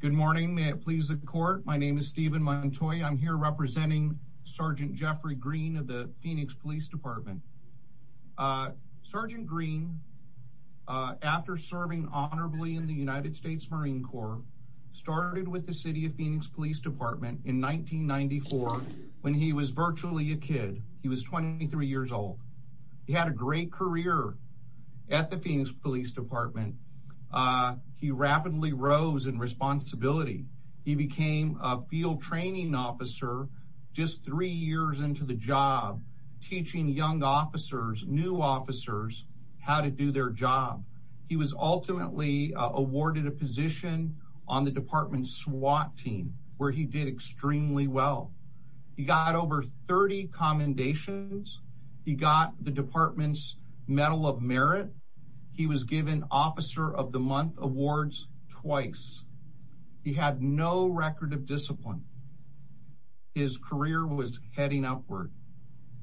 Good morning. May it please the court. My name is Stephen Montoy. I'm here representing Sergeant Jeffrey Green of the Phoenix Police Department. Sergeant Green, after serving honorably in the United States Marine Corps, started with the City of Phoenix Police Department in 1994 when he was virtually a kid. He was 23 years old. He had a great career at the department. He rapidly rose in responsibility. He became a field training officer just three years into the job, teaching young officers, new officers, how to do their job. He was ultimately awarded a position on the department's SWAT team, where he did extremely well. He got over 30 commendations. He got the department's Medal of Merit. He was given Officer of the Awards twice. He had no record of discipline. His career was heading upward.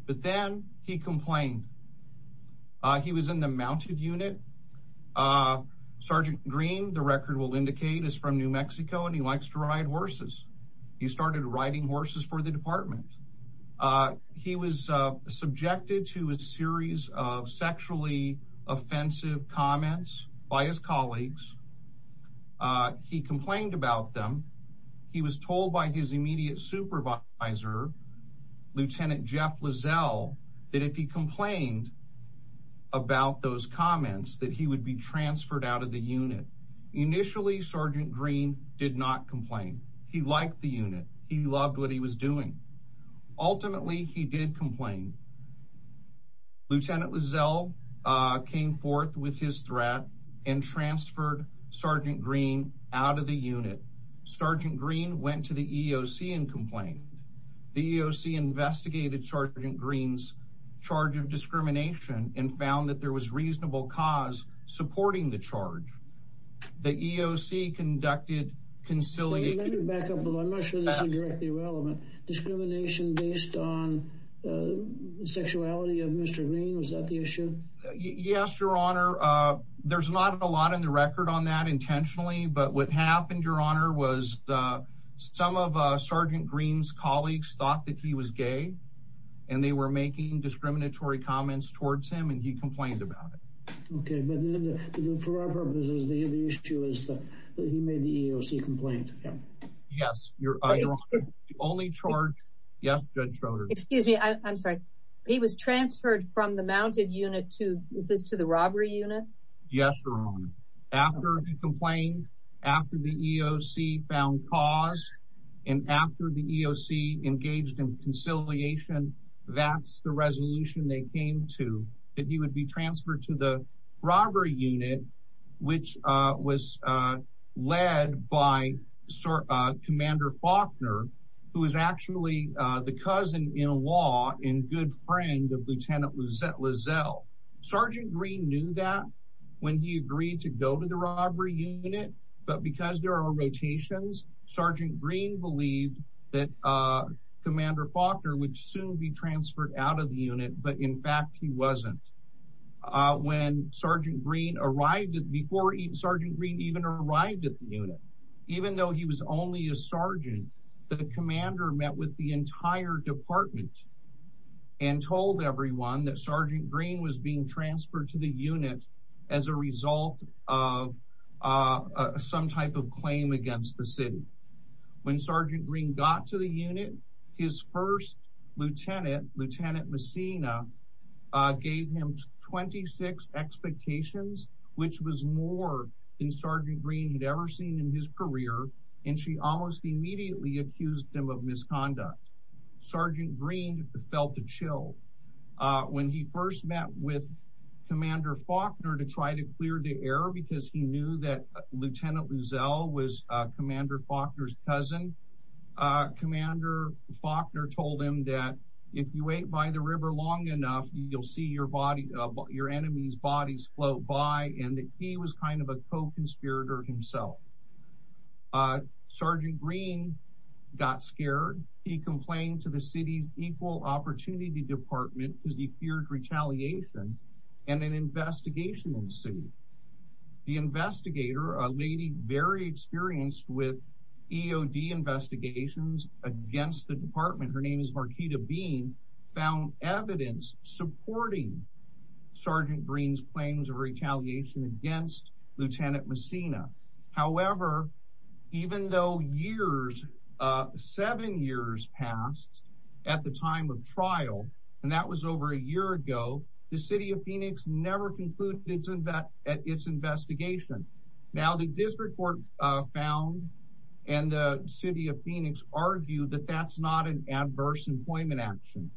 But then he complained. He was in the mounted unit. Sergeant Green, the record will indicate, is from New Mexico and he likes to ride horses. He started riding horses for the department. He was subjected to a series of sexually offensive comments by his colleagues. He complained about them. He was told by his immediate supervisor, Lieutenant Jeff Lizell, that if he complained about those comments that he would be transferred out of the unit. Initially, Sergeant Green did not complain. He liked the unit. He loved what he was doing. Ultimately, he did complain. Lieutenant Lizell came forth with his threat and transferred Sergeant Green out of the unit. Sergeant Green went to the EOC and complained. The EOC investigated Sergeant Green's charge of discrimination and found that there was reasonable cause supporting the charge. The back up a little. I'm not sure this is directly relevant. Discrimination based on the sexuality of Mr. Green? Was that the issue? Yes, Your Honor. There's not a lot in the record on that intentionally. But what happened, Your Honor, was some of Sergeant Green's colleagues thought that he was gay and they were making discriminatory comments towards him and he complained about it. Okay, but for our purposes, the issue is that he made the EOC complain. Yes, Your Honor. The only charge, yes, Judge Schroeder. Excuse me, I'm sorry. He was transferred from the mounted unit to, is this to the robbery unit? Yes, Your Honor. After he complained, after the EOC found cause, and after the EOC engaged in conciliation, that's the resolution they made. They transferred him to the robbery unit, which was led by Commander Faulkner, who is actually the cousin-in-law and good friend of Lieutenant Luzette Lizelle. Sergeant Green knew that when he agreed to go to the robbery unit, but because there are rotations, Sergeant Green believed that Commander Faulkner would soon be transferred out of the unit, but in fact, he wasn't. When Sergeant Green arrived, before Sergeant Green even arrived at the unit, even though he was only a sergeant, the commander met with the entire department and told everyone that Sergeant Green was being transferred to the unit as a result of some type of claim against the city. When Sergeant Green got to the unit, his first lieutenant, Lieutenant Messina, gave him 26 expectations, which was more than Sergeant Green had ever seen in his career, and she almost immediately accused him of misconduct. Sergeant Green felt a chill. When he first met with Commander Faulkner to try to clear the air because he knew that Lieutenant Lizelle was Commander Faulkner's cousin, Commander Faulkner told him that if you wait by the river long enough, you'll see your enemy's bodies float by, and that he was kind of a co-conspirator himself. Sergeant Green got scared. He complained to the city's Equal Opportunity Department because he feared retaliation, and an investigation ensued. The investigator, a lady very experienced with EOD investigations against the department, her name is Marquita Bean, found evidence supporting Sergeant Green's claims of retaliation against Lieutenant Messina. However, even though years, seven years passed at the time of trial, and that was over a year ago, the City of Phoenix never concluded its investigation. Now, the district court found and the City of Phoenix argued that that's not an adverse employment action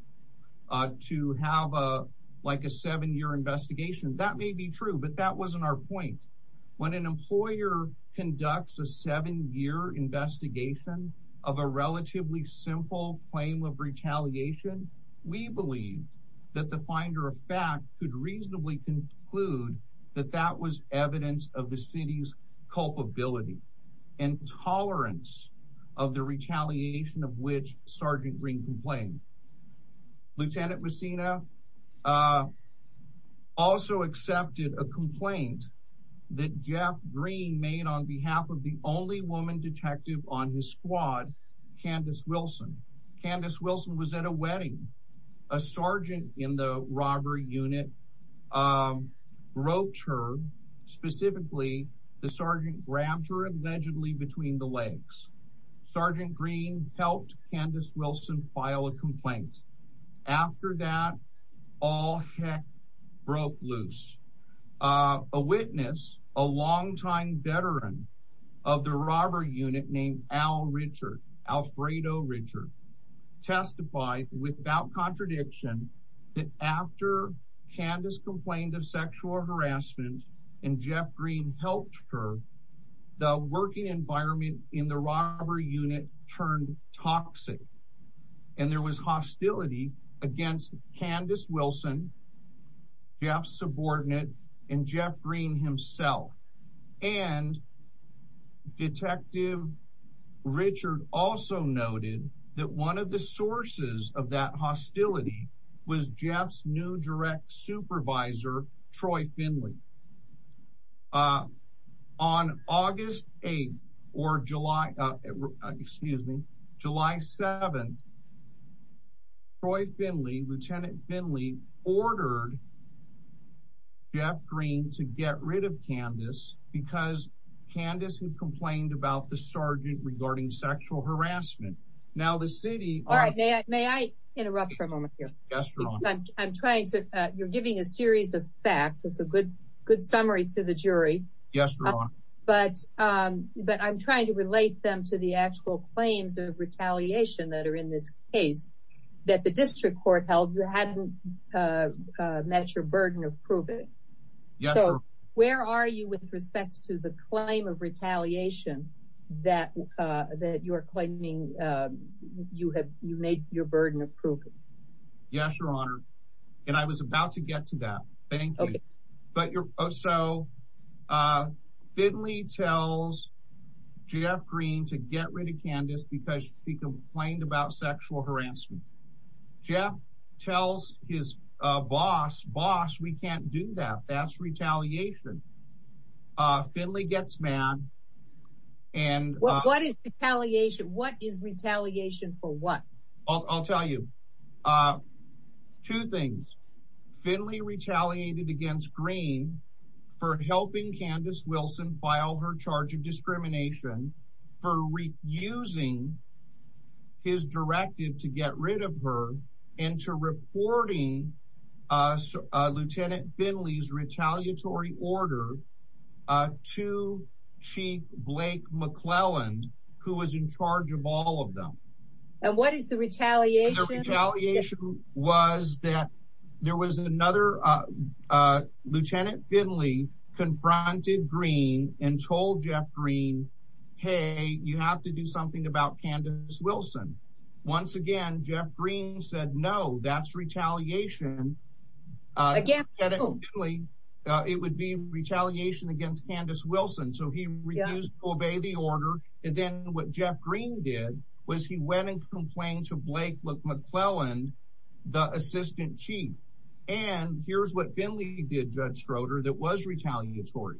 to have a seven-year investigation. That may be true, but that wasn't our point. When an employer conducts a seven-year investigation of a relatively simple claim of retaliation, we believe that the finder of fact could reasonably conclude that that was evidence of the city's culpability and tolerance of the retaliation of which Sergeant Green complained. Lieutenant Messina also accepted a complaint that Jeff Green made on behalf of the woman detective on his squad, Candace Wilson. Candace Wilson was at a wedding. A sergeant in the robbery unit roped her. Specifically, the sergeant grabbed her allegedly between the legs. Sergeant Green helped Candace Wilson file a complaint. After that, all heck broke loose. A witness, a longtime veteran of the robbery unit named Al Richard, Alfredo Richard, testified without contradiction that after Candace complained of sexual harassment and Jeff Green helped her, the working environment in the robbery unit turned toxic. And there was hostility against Candace Wilson, Jeff's subordinate, and Jeff Green himself. And Detective Richard also noted that one of the sources of that hostility was Jeff's new direct supervisor, Troy Finley. Uh, on August 8th or July, uh, excuse me, July 7th, Troy Finley, Lieutenant Finley ordered Jeff Green to get rid of Candace because Candace had complained about the sergeant regarding sexual harassment. Now the city- All right, may I interrupt for a moment here? Yes, you're on. I'm trying to, you're giving a series of facts. It's a good, good summary to the jury. Yes, you're on. But, um, but I'm trying to relate them to the actual claims of retaliation that are in this case that the district court held you hadn't, uh, uh, met your burden of proving. So where are you with respect to the claim of retaliation that, uh, that you're claiming, um, you have, you made your burden of proving? Yes, your honor. And I was about to get to that. Thank you. But you're, so, uh, Finley tells Jeff Green to get rid of Candace because she complained about sexual harassment. Jeff tells his, uh, boss, boss, we can't do that. That's retaliation. Uh, Finley gets mad and- What is retaliation? What is retaliation for what? I'll tell you, uh, two things. Finley retaliated against Green for helping Candace Wilson file her charge of discrimination for refusing his directive to get rid of her and to reporting, uh, Lieutenant Finley's retaliatory order, uh, to Chief Blake McClelland, who was in charge of all of them. And what is the retaliation? The retaliation was that there was another, uh, uh, Lieutenant Finley confronted Green and told Jeff Green, hey, you have to do something about Candace Uh, it would be retaliation against Candace Wilson. So he refused to obey the order. And then what Jeff Green did was he went and complained to Blake McClelland, the assistant chief, and here's what Finley did, Judge Schroeder, that was retaliatory.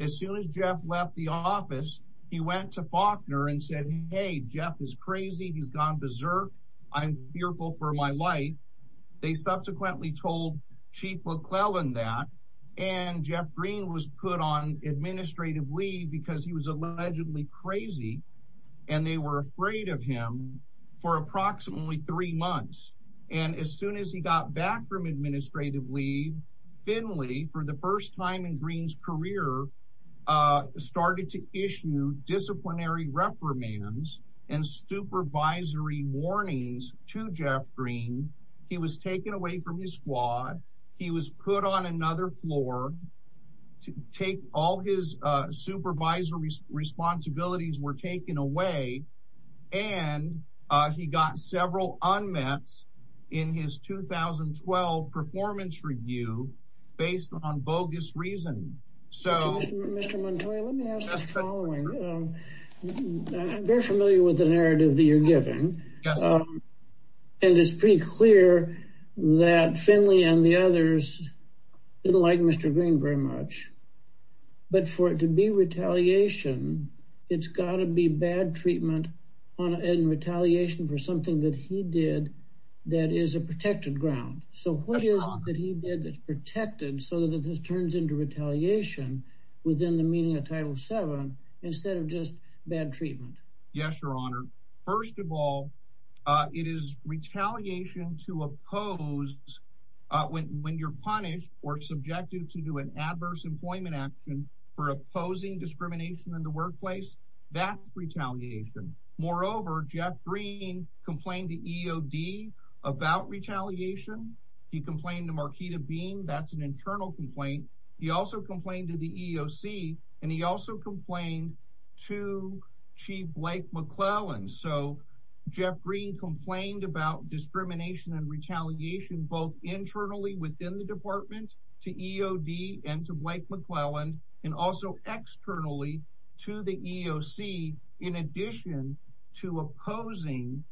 As soon as Jeff left the office, he went to Faulkner and said, hey, Jeff is crazy. He's gone berserk. I'm fearful for my life. They subsequently told Chief McClelland that and Jeff Green was put on administrative leave because he was allegedly crazy and they were afraid of him for approximately three months. And as soon as he got back from administrative leave, Finley, for the first time in Green's career, uh, started to issue disciplinary reprimands and supervisory warnings to Jeff Green. He was taken away from his squad. He was put on another floor to take all his, uh, supervisory responsibilities were taken away. And, uh, he got several unmets in his 2012 performance review based on bogus reason. So, Mr. Montoya, let me ask the following. I'm very familiar with the narrative that you're giving. And it's pretty clear that Finley and the others didn't like Mr. Green very much. But for it to be retaliation, it's got to be bad treatment and retaliation for something that he did that is a protected ground. So what is it that he did that's just bad treatment? Yes, Your Honor. First of all, uh, it is retaliation to oppose, uh, when, when you're punished or subjected to do an adverse employment action for opposing discrimination in the workplace, that's retaliation. Moreover, Jeff Green complained to EOD about retaliation. He complained to Marquita Beam. That's an internal complaint. He also complained to the EOC and he also complained to Chief Blake McClelland. So Jeff Green complained about discrimination and retaliation both internally within the department to EOD and to Blake McClelland and also externally to the EOC in addition to opposing,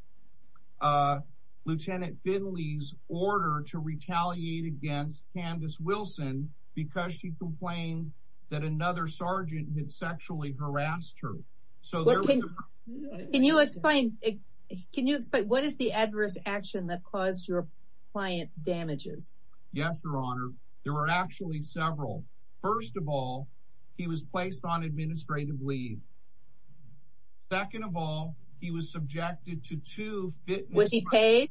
uh, Lieutenant Finley's order to retaliate against Candace Wilson because she complained that another sergeant had sexually harassed her. So can you explain, can you explain what is the adverse action that caused your client damages? Yes, Your Honor. There were actually several. First of all, he was placed on administrative leave. Second of all, he was subjected to two fitness. Was he paid?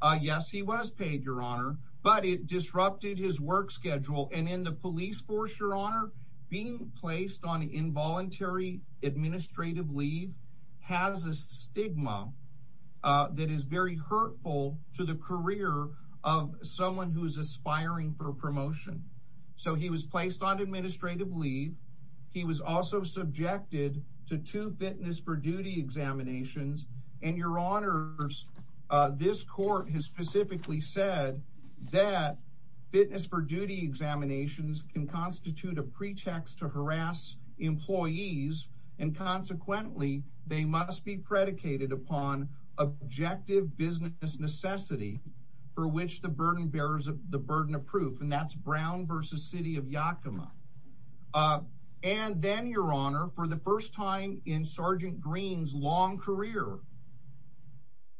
Uh, yes, he was paid, Your Honor, but it disrupted his work schedule. And in the police force, Your Honor, being placed on involuntary administrative leave has a stigma, uh, that is very hurtful to the career of someone who is aspiring for promotion. So he was placed on administrative leave. He was also subjected to two fitness for duty examinations. And Your Honor, this court has specifically said that fitness for duty examinations can constitute a pretext to harass employees and consequently, they must be predicated upon objective business necessity for which the burden bearers of the time in Sergeant Green's long career.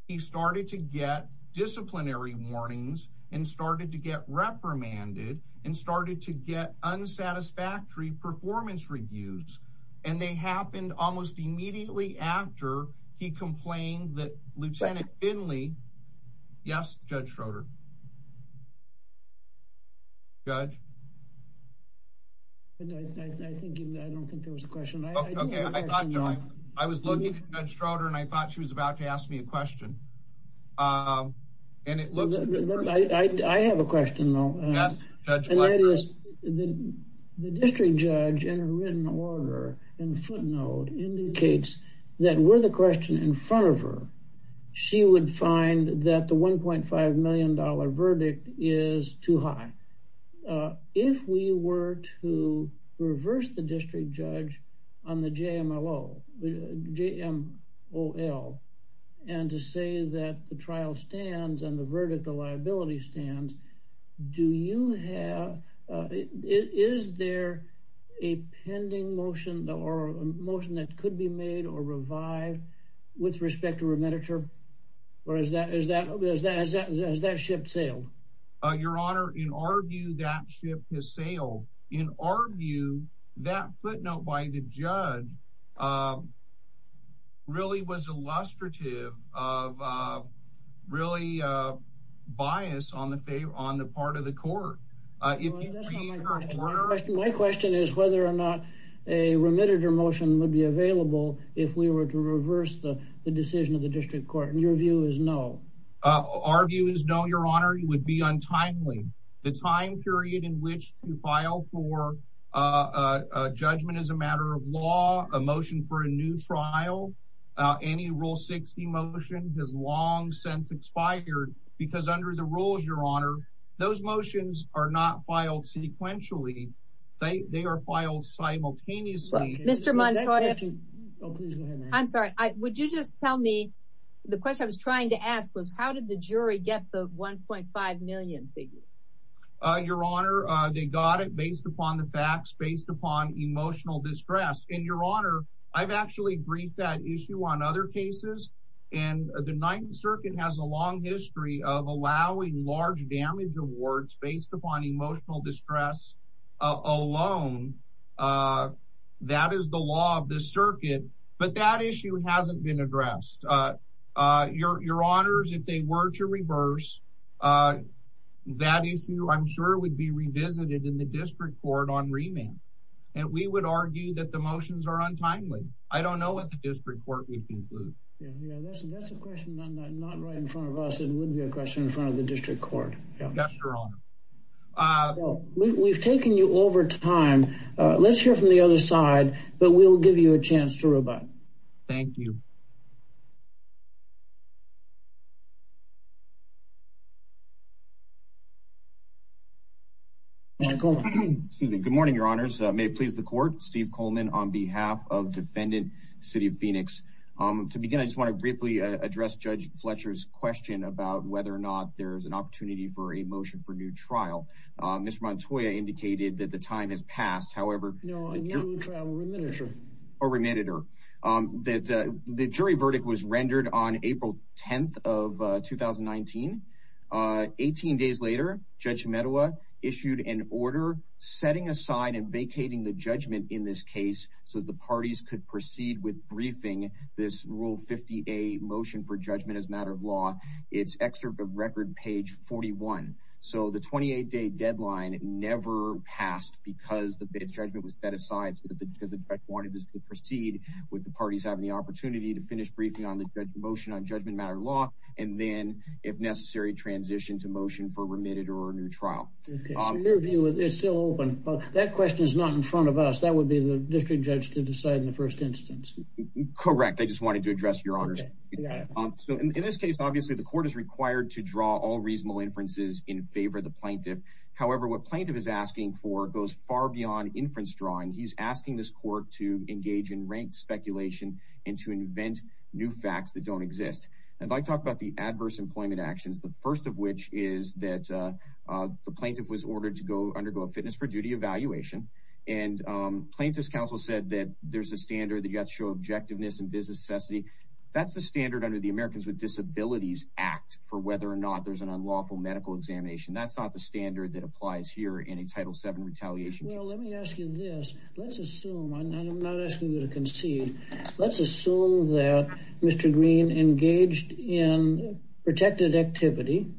He started to get disciplinary warnings and started to get reprimanded and started to get unsatisfactory performance reviews. And they happened almost immediately after he complained that Lieutenant Finley. Yes, Judge Schroeder. Judge? I don't think there was a question. Okay, I thought I was looking at Judge Schroeder and I thought she was about to ask me a question. Uh, and it looks like I have a question, though. The district judge in written order in footnote indicates that were the question in front of her, she would find that the $1.5 million verdict is too high. Uh, if we were to reverse the district judge on the JMOL and to say that the trial stands and the verdict, the liability stands, do you have, uh, is there a pending motion or a motion that could be made or revive with respect to remittiture? Or is that is that is that is that is that ship sailed? Your Honor, in our view, that ship has sailed. In our view, that footnote by the judge, uh, really was illustrative of, uh, really, uh, bias on the favor on the part of the court. Uh, my question is whether or not a remittiture motion would be available if we were to reverse the decision of the district court. And your view is no, our view is no. Your Honor, it would be untimely. The time period in which to file for, uh, judgment is a matter of law, a motion for a new trial. Uh, any rule 60 motion has long since expired because under the rules, Your Honor, those motions are not filed sequentially. They are filed simultaneously. Mr. Montoya. I'm sorry. Would you just tell me the question I was trying to ask was how did the jury get the 1.5 million figure? Uh, Your Honor, they got it based upon the facts, based upon emotional distress. And Your Honor, I've actually briefed that issue on other cases. And the Ninth Circuit has a long history of allowing large damage awards based upon emotional distress alone. Uh, that is the law of the circuit, but that issue hasn't been addressed. Uh, uh, Your, Your Honors, if they were to reverse, uh, that issue, I'm sure it would be revisited in the district court on remand. And we would argue that the motions are untimely. I don't know what the right in front of us. It would be a question in front of the district court. We've taken you over time. Let's hear from the other side, but we'll give you a chance to rebut. Thank you. Good morning, Your Honors. May it please the court. Steve Coleman on behalf of defendant City of Phoenix. Um, to begin, I just want to briefly address Judge Fletcher's question about whether or not there's an opportunity for a motion for new trial. Um, Mr. Montoya indicated that the time has passed. However, a remanded, or, um, that, uh, the jury verdict was rendered on April 10th of 2019. Uh, 18 days later, Judge Medawa issued an order setting aside and vacating the judgment in this case. So the parties could proceed with briefing this rule 50, a motion for judgment as matter of law. It's excerpt of record page 41. So the 28 day deadline never passed because the judgment was set aside because the judge wanted us to proceed with the parties having the opportunity to finish briefing on the motion on judgment matter law. And then if necessary, transition to motion for remitted or a new trial. It's still open, but that question is not in front of us. That would be the district judge to decide in the first instance. Correct. I just wanted to address your honors. So in this case, obviously the court is required to draw all reasonable inferences in favor of the plaintiff. However, what plaintiff is asking for goes far beyond inference drawing. He's asking this court to engage in ranked speculation and to invent new facts that don't exist. And if I talk about the adverse employment actions, the first of which is that the plaintiff was ordered to go undergo a fitness for duty evaluation. And plaintiff's counsel said that there's a standard that you have to show objectiveness and business necessity. That's the standard under the Americans with Disabilities Act for whether or not there's an unlawful medical examination. That's not the standard that applies here in a Title VII retaliation case. Well, let me ask you this. Let's assume I'm not asking you to concede. Let's assume that Mr. Green engaged in protected activity.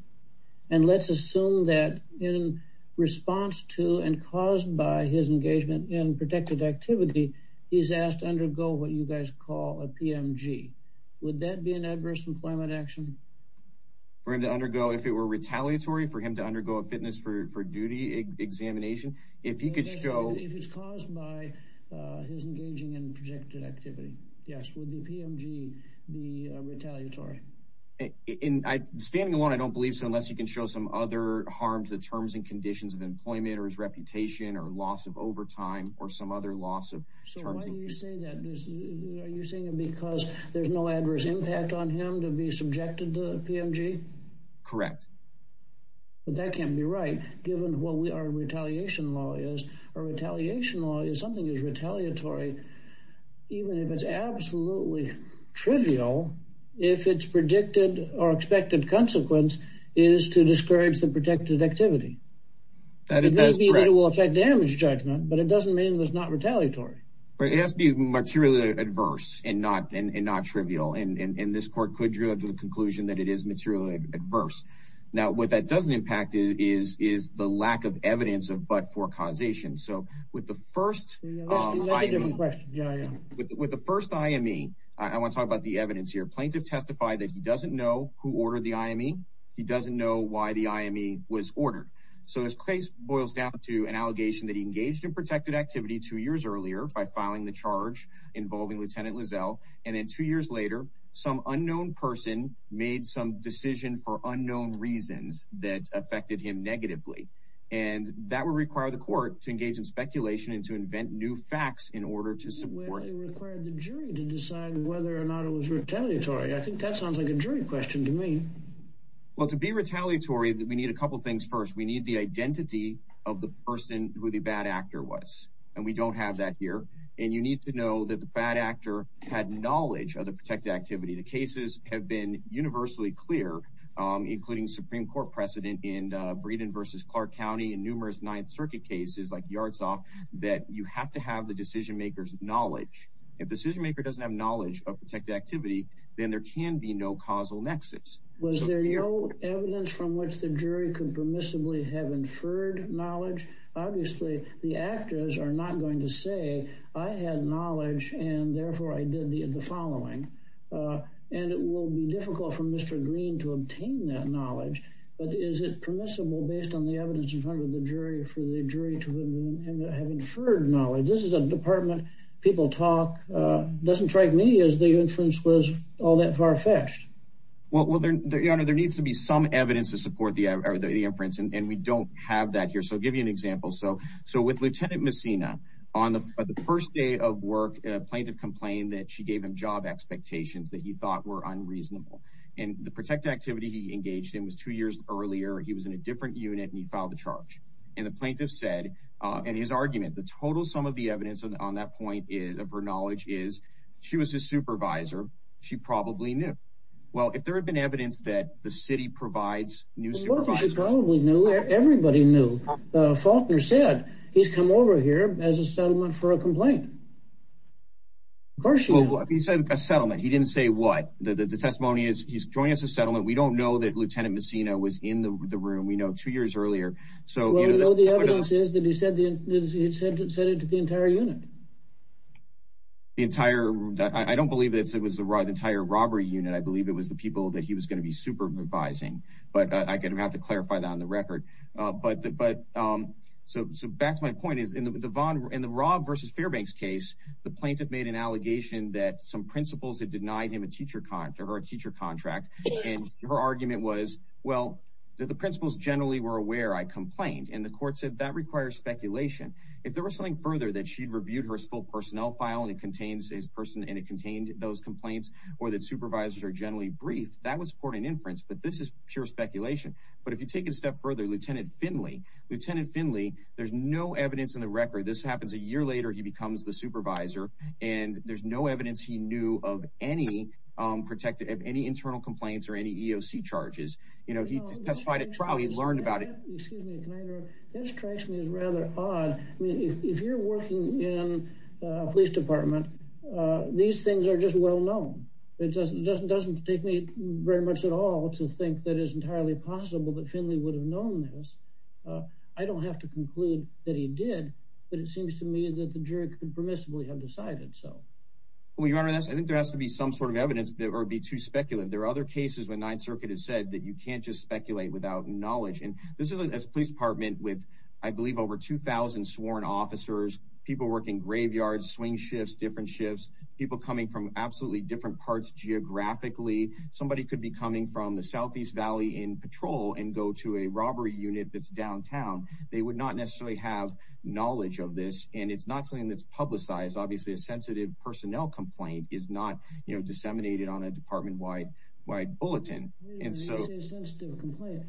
And let's assume that in response to and caused by his engagement in protected activity, he's asked to undergo what you guys call a PMG. Would that be an adverse employment action? For him to undergo if it were retaliatory, for him to undergo a fitness for duty examination, if he could show... Yes, would the PMG be retaliatory? Standing alone, I don't believe so, unless you can show some other harm to the terms and conditions of employment or his reputation or loss of overtime or some other loss of... So why do you say that? Are you saying because there's no adverse impact on him to be subjected to the PMG? Correct. But that can't be right, given what our retaliation law is. Our retaliation law is something that's absolutely trivial if its predicted or expected consequence is to discourage the protected activity. It may be that it will affect damage judgment, but it doesn't mean it was not retaliatory. But it has to be materially adverse and not trivial. And this court could draw to the conclusion that it is materially adverse. Now, what that doesn't impact is the lack of evidence of but-for causation. So with the first IME, I want to talk about the evidence here. Plaintiff testified that he doesn't know who ordered the IME. He doesn't know why the IME was ordered. So this case boils down to an allegation that he engaged in protected activity two years earlier by filing the charge involving Lieutenant Lizell. And then two years later, some unknown person made some decision for unknown reasons that affected him negatively. And that would require the court to engage in speculation and to invent new facts in order to support. Well, it required the jury to decide whether or not it was retaliatory. I think that sounds like a jury question to me. Well, to be retaliatory, we need a couple of things. First, we need the identity of the person who the bad actor was. And we don't have that here. And you need to know that the bad actor had knowledge of the protected activity. The cases have been universally clear, including Supreme Court precedent in Breedon versus Clark County and numerous Ninth Circuit cases like Yards Off, that you have to have the decision maker's knowledge. If the decision maker doesn't have knowledge of protected activity, then there can be no causal nexus. Was there no evidence from which the jury could permissibly have inferred knowledge? Obviously, the actors are not going to say, I had knowledge and therefore I did the following. And it will be difficult for Mr. Green to obtain that knowledge. But is it permissible based on the evidence in front of the jury for the jury to have inferred knowledge? This is a department people talk, doesn't strike me as the inference was all that far fetched. Well, there needs to be some evidence to support the inference. And we don't have that here. So I'll give you an example. So with Lieutenant Messina, on the first day of work, a plaintiff complained that she gave him job expectations that he thought were unreasonable. And the protected activity he engaged in was two years earlier. He was in a different unit and he filed the charge. And the plaintiff said, and his argument, the total sum of the evidence on that point of her knowledge is she was his supervisor. She probably knew. Well, if there had been evidence that the city provides new supervisors. She probably knew, everybody knew. Faulkner said he said a settlement. He didn't say what the testimony is. He's joining us a settlement. We don't know that Lieutenant Messina was in the room. We know two years earlier. So the evidence is that he said it to the entire unit. The entire I don't believe it was the entire robbery unit. I believe it was the people that he was going to be supervising. But I have to clarify that on the record. But so back to my case, the plaintiff made an allegation that some principals had denied him a teacher contract or a teacher contract. And her argument was, well, that the principals generally were aware I complained and the court said that requires speculation. If there was something further that she'd reviewed her as full personnel file and it contains his person and it contained those complaints or that supervisors are generally briefed, that was for an inference. But this is pure speculation. But if you take it a step further, Lieutenant Finley, Lieutenant Finley, there's no evidence in the supervisor. And there's no evidence he knew of any protected of any internal complaints or any EOC charges. You know, he testified at trial. He learned about it. Excuse me. This strikes me as rather odd. I mean, if you're working in a police department, these things are just well known. It just doesn't take me very much at all to think that is entirely possible that Finley would have known this. I don't have to conclude that he did. But it seems to me that the jury could permissibly have decided so. Well, Your Honor, I think there has to be some sort of evidence or be too speculative. There are other cases when Ninth Circuit has said that you can't just speculate without knowledge. And this is a police department with, I believe, over 2000 sworn officers, people working graveyards, swing shifts, different shifts, people coming from absolutely different parts geographically. Somebody could be coming from the Southeast Valley in patrol and go to a robbery unit that's downtown. They would not necessarily have knowledge of this. And it's not something that's publicized. Obviously, a sensitive personnel complaint is not disseminated on a department-wide bulletin. When you say a sensitive complaint,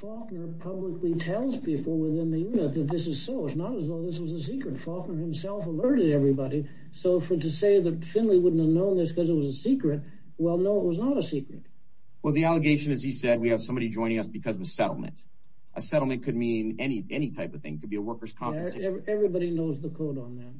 Faulkner publicly tells people within the unit that this is so. It's not as though this was a secret. Faulkner himself alerted everybody. So to say that Finley wouldn't have known this because it was a secret, well, no, it was not a secret. Well, the allegation, as he said, we have somebody joining us because of a settlement. A settlement could mean any type of thing. It could be a worker's compensation. Everybody knows the code on that.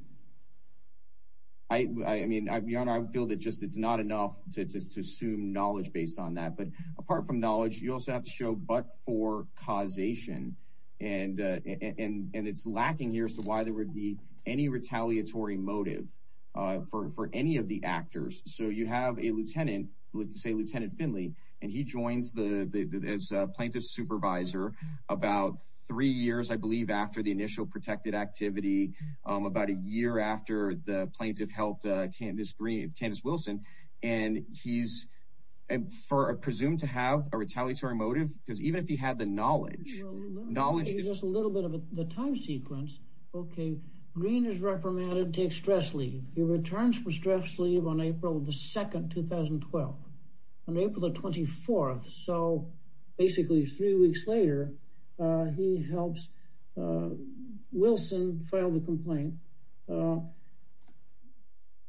I mean, Your Honor, I feel that just it's not enough to assume knowledge based on that. But apart from knowledge, you also have to show but for causation. And it's lacking here as to why there would be any retaliatory motive for any of the actors. So you have a lieutenant, let's say, plaintiff's supervisor, about three years, I believe, after the initial protected activity, about a year after the plaintiff helped Candace Wilson, and he's presumed to have a retaliatory motive because even if he had the knowledge, knowledge... Just a little bit of the time sequence. Okay. Green is reprimanded, takes stress leave. He returns from stress leave on April 2, 2012. On April the 24th, so basically three weeks later, he helps Wilson file the complaint. And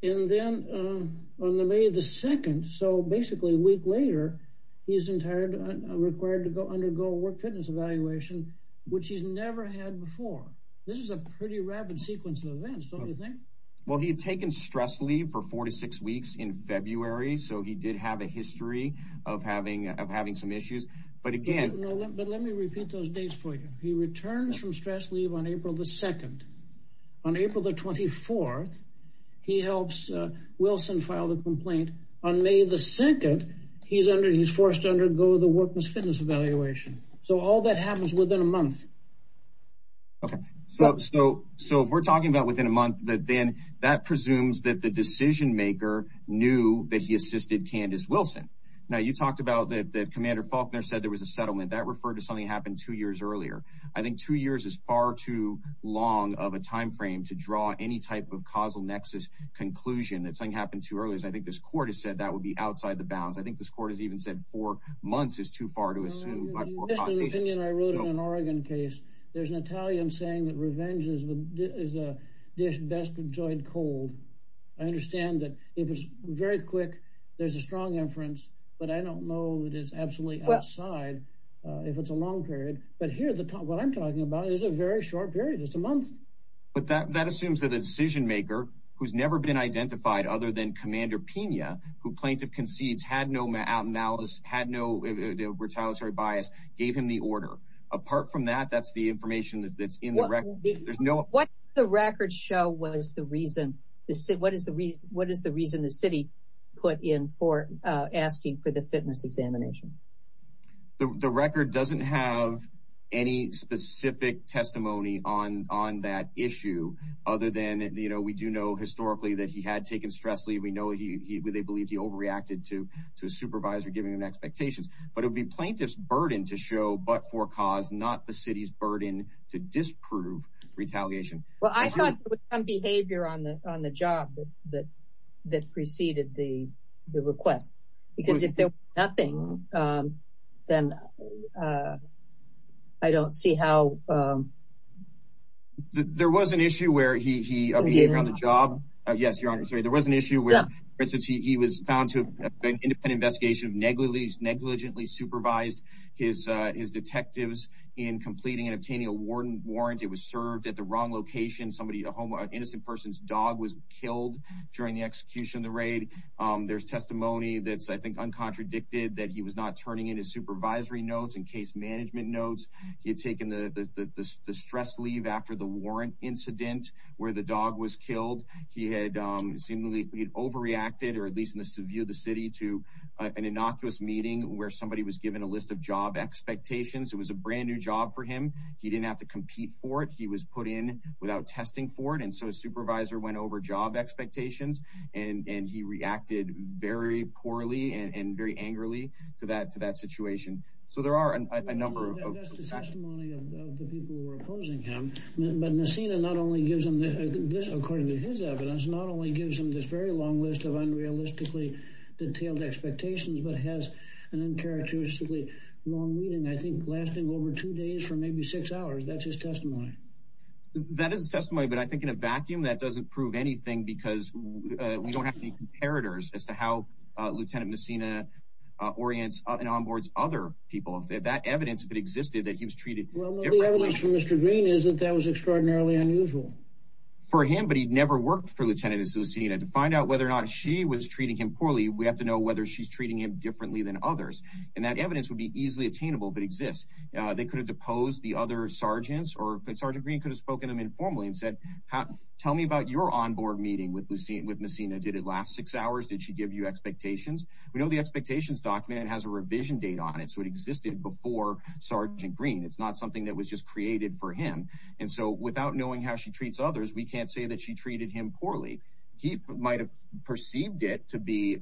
then on May the 2nd, so basically a week later, he's required to go undergo a work fitness evaluation, which he's never had before. This is a pretty rapid sequence of events, don't you think? Well, he had taken stress leave for four to six weeks in February. So he did have a history of having some issues. But again... But let me repeat those dates for you. He returns from stress leave on April the 2nd. On April the 24th, he helps Wilson file the complaint. On May the 2nd, he's forced to undergo the workman's fitness evaluation. So all that happens within a month. Okay. So if we're talking about within a month, but then that presumes that the decision maker knew that he assisted Candace Wilson. Now you talked about that Commander Faulkner said there was a settlement. That referred to something that happened two years earlier. I think two years is far too long of a time frame to draw any type of causal nexus conclusion that something happened too early. I think this court has said that would be outside the bounds. I think this court has even said four months is too far to assume. In an Oregon case, there's an Italian saying that revenge is the best enjoyed cold. I understand that it was very quick. There's a strong inference, but I don't know that it's absolutely outside if it's a long period. But here, what I'm talking about is a very short period. It's a month. But that assumes that a decision maker who's had no retaliatory bias gave him the order. Apart from that, that's the information that's in the record. What did the record show was the reason the city put in for asking for the fitness examination? The record doesn't have any specific testimony on that issue other than, you know, we do know historically that he had taken stress lead. We know he, they believed he overreacted to a supervisor, giving him expectations, but it would be plaintiff's burden to show, but for cause, not the city's burden to disprove retaliation. Well, I thought there was some behavior on the job that preceded the request, because if there was nothing, then I don't see how. There was an issue where he, on the job. Yes, Your Honor, sorry. There was an issue where, for instance, he was found to have been independent investigation of negligently supervised his detectives in completing and obtaining a warrant. It was served at the wrong location. Somebody, a home, an innocent person's dog was killed during the execution of the raid. There's testimony that's, I think, uncontradicted that he was not turning in his supervisory notes and case management notes. He had taken the stress leave after the warrant incident where the dog was killed. He had seemingly overreacted, or at least in the view of the city, to an innocuous meeting where somebody was given a list of job expectations. It was a brand new job for him. He didn't have to compete for it. He was put in without testing for it, and so his supervisor went over job expectations, and he reacted very poorly and very angrily to that situation. So there are a number of facts. People were opposing him, but Nassina not only gives him this, according to his evidence, not only gives him this very long list of unrealistically detailed expectations, but has an uncharacteristically long meeting, I think, lasting over two days for maybe six hours. That's his testimony. That is testimony, but I think in a vacuum that doesn't prove anything because we don't have any comparators as to how Lieutenant Nassina orients and onboards other people. That evidence, if it existed, that he was treated differently. The evidence from Mr. Green is that that was extraordinarily unusual. For him, but he'd never worked for Lieutenant Nassina. To find out whether or not she was treating him poorly, we have to know whether she's treating him differently than others, and that evidence would be easily attainable if it exists. They could have deposed the other sergeants, or Sergeant Green could have spoken to them informally and said, tell me about your onboard meeting with Nassina. Did it last six hours? Did she give you expectations? We know the expectations document has a revision date on it, so it existed before Sergeant Green. It's not something that was just created for him, and so without knowing how she treats others, we can't say that she treated him poorly. He might have perceived it to be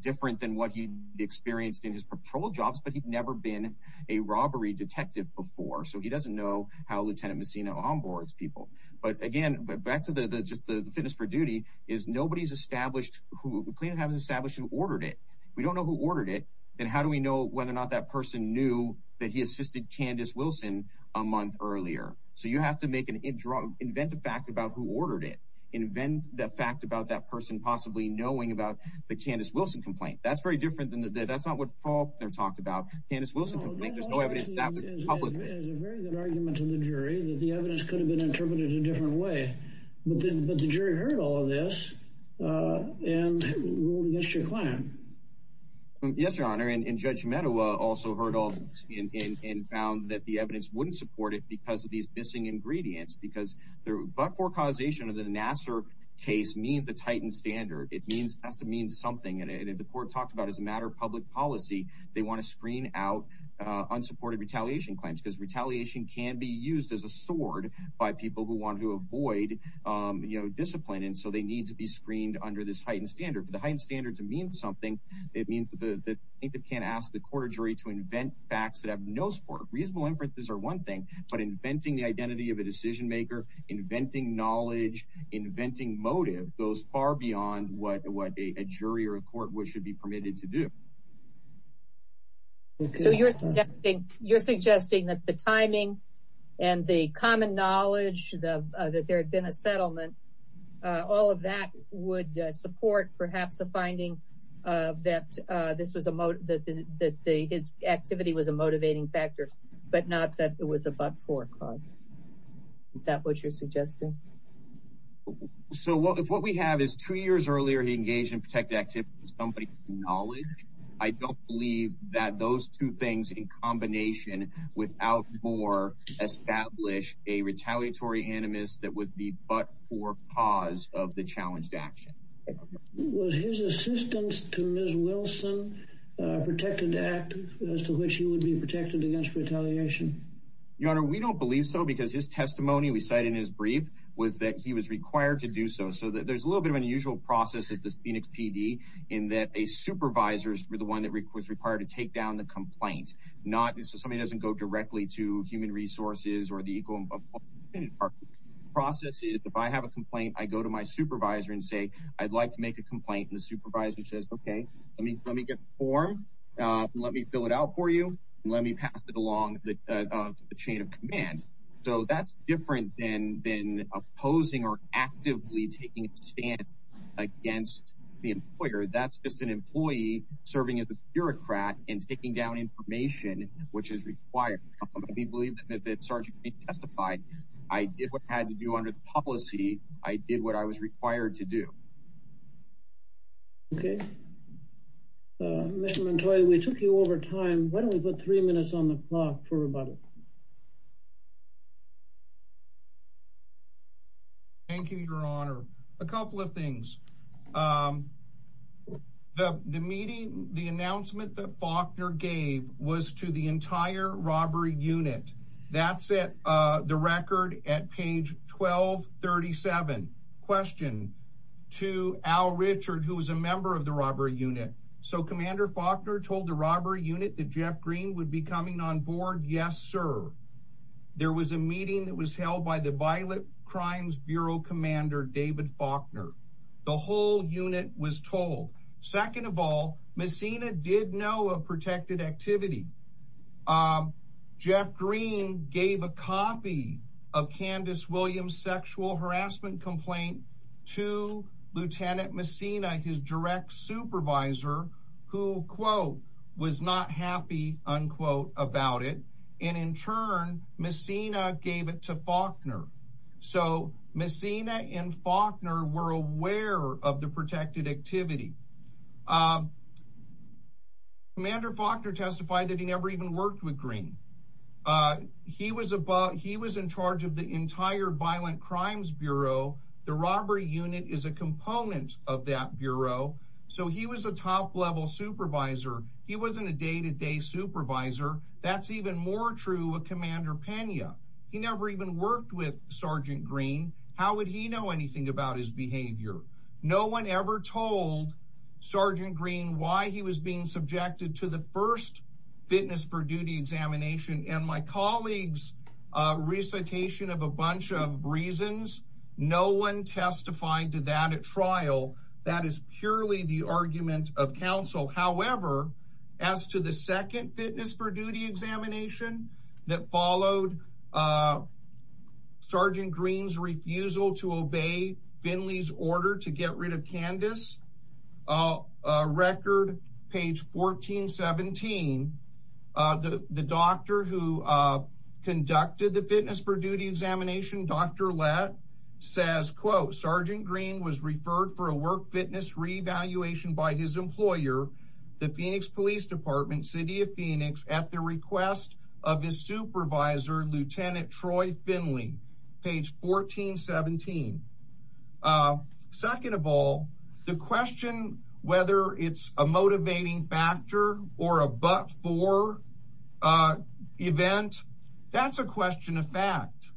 different than what he experienced in his patrol jobs, but he'd never been a robbery detective before, so he doesn't know how Lieutenant Nassina onboards people. But again, back to just the fitness for duty is nobody's established who, haven't established who ordered it. We don't know who ordered it, and how do we know whether or not that person knew that he assisted Candace Wilson a month earlier? So you have to make an inventive fact about who ordered it. Invent the fact about that person possibly knowing about the Candace Wilson complaint. That's very different than, that's not what Faulkner talked about. Candace Wilson complaint, there's no evidence that was published. There's a very good argument in the jury that the evidence could have been interpreted in a different way. Yes, Your Honor, and Judge Medawa also heard all this and found that the evidence wouldn't support it because of these missing ingredients, because the but-for causation of the Nassar case means it's heightened standard. It has to mean something, and the court talked about as a matter of public policy, they want to screen out unsupported retaliation claims, because retaliation can be used as a sword by people who want to avoid discipline, and so they need to be screened under this heightened standard. For the heightened standard to mean something, it means that the plaintiff can't ask the court or jury to invent facts that have no support. Reasonable inferences are one thing, but inventing the identity of a decision maker, inventing knowledge, inventing motive, goes far beyond what a jury or a court should be permitted to do. So you're suggesting that the timing and the common knowledge that there all of that would support perhaps a finding that his activity was a motivating factor, but not that it was a but-for cause. Is that what you're suggesting? So if what we have is two years earlier he engaged in protected activities, somebody's knowledge, I don't believe that those two things in combination without more establish a retaliatory animus that was the but-for cause of the challenged action. Was his assistance to Ms. Wilson a protected act as to which he would be protected against retaliation? Your Honor, we don't believe so, because his testimony we cite in his brief was that he was required to do so. So there's a little bit of an unusual process at the Phoenix PD in that a supervisor is the one that was required to take down the complaint, so somebody doesn't go directly to human resources or the equal process. If I have a complaint, I go to my supervisor and say, I'd like to make a complaint, and the supervisor says, okay, let me get the form. Let me fill it out for you. Let me pass it along the chain of command. So that's different than opposing or actively taking a stand against the employer. That's just an employee serving as a bureaucrat and taking down information, which is required. We believe that Sargent testified. I did what I had to do under the policy. I did what I was required to do. Okay. Mr. Montoya, we took you over time. Why don't we put three minutes on the clock for rebuttal? Thank you, Your Honor. A couple of things. The announcement that Faulkner gave was to the entire robbery unit. That's the record at page 1237. Question to Al Richard, who was a member of the robbery unit. So Commander Faulkner told the robbery unit that Jeff Green would be coming on There was a meeting that was held by the Violent Crimes Bureau Commander David Faulkner. The whole unit was told. Second of all, Messina did know of protected activity. Jeff Green gave a copy of Candace Williams' sexual harassment complaint to Lieutenant Messina, his direct supervisor, who was not happy about it. In turn, Messina gave it to Faulkner. Messina and Faulkner were aware of the protected activity. Commander Faulkner testified that he never even worked with Green. He was in charge of the entire Violent Crimes Bureau. The robbery unit is a component of that so he was a top-level supervisor. He wasn't a day-to-day supervisor. That's even more true of Commander Pena. He never even worked with Sergeant Green. How would he know anything about his behavior? No one ever told Sergeant Green why he was being subjected to the first fitness for duty examination and my colleague's recitation of a bunch of reasons. No one testified to that trial. That is purely the argument of counsel. However, as to the second fitness for duty examination that followed Sergeant Green's refusal to obey Finley's order to get rid of Candace, record page 1417, the doctor who conducted the fitness for duty examination, Dr. Lett, says, quote, Sergeant Green was referred for a work fitness re-evaluation by his employer, the Phoenix Police Department, City of Phoenix, at the request of his supervisor, Lieutenant Troy Finley, page 1417. Second of all, the question whether it's a motivating factor or a but-for event, that's a question of fact.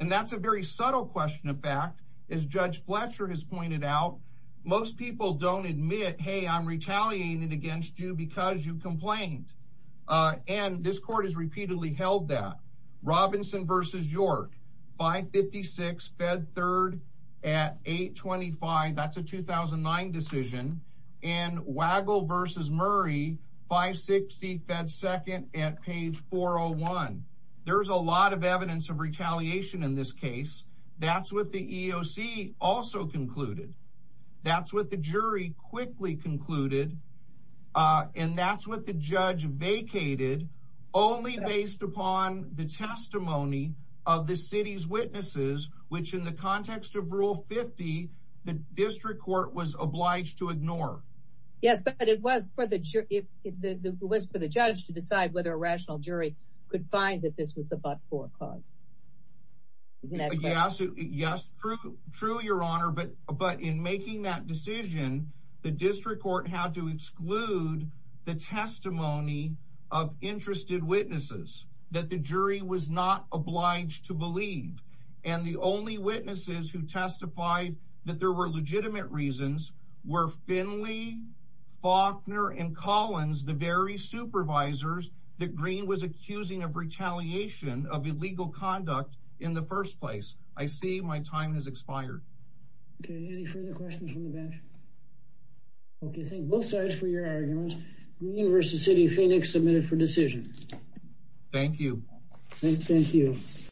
And that's a very subtle question of fact. As Judge Fletcher has pointed out, most people don't admit, hey, I'm retaliating against you because you complained. And this court has repeatedly held that. Robinson v. York, 556, fed third at 825. That's a 2009 decision. And Wagle v. Murray, 560, fed second at page 401. There's a lot of evidence of retaliation in this case. That's what the EOC also concluded. That's what the jury quickly concluded. And that's what the judge vacated, only based upon the testimony of the city's witnesses, which in the context of Rule 50, the district court was obliged to ignore. Yes, but it was for the judge to decide whether a rational jury could find that this was the but-for cause. Isn't that correct? Yes, true, your honor. But in making that decision, the district court had to exclude the testimony of interested witnesses, that the jury was not obliged to believe. And the only witnesses who testified that there were legitimate reasons were Finley, Faulkner, and Collins, the very supervisors that Green was accusing of retaliation of illegal conduct in the first place. I see my time has expired. Okay, any further questions from the bench? Okay, thank both sides for your arguments. Green v. City of Phoenix, submitted for decision. Thank you. Thank you.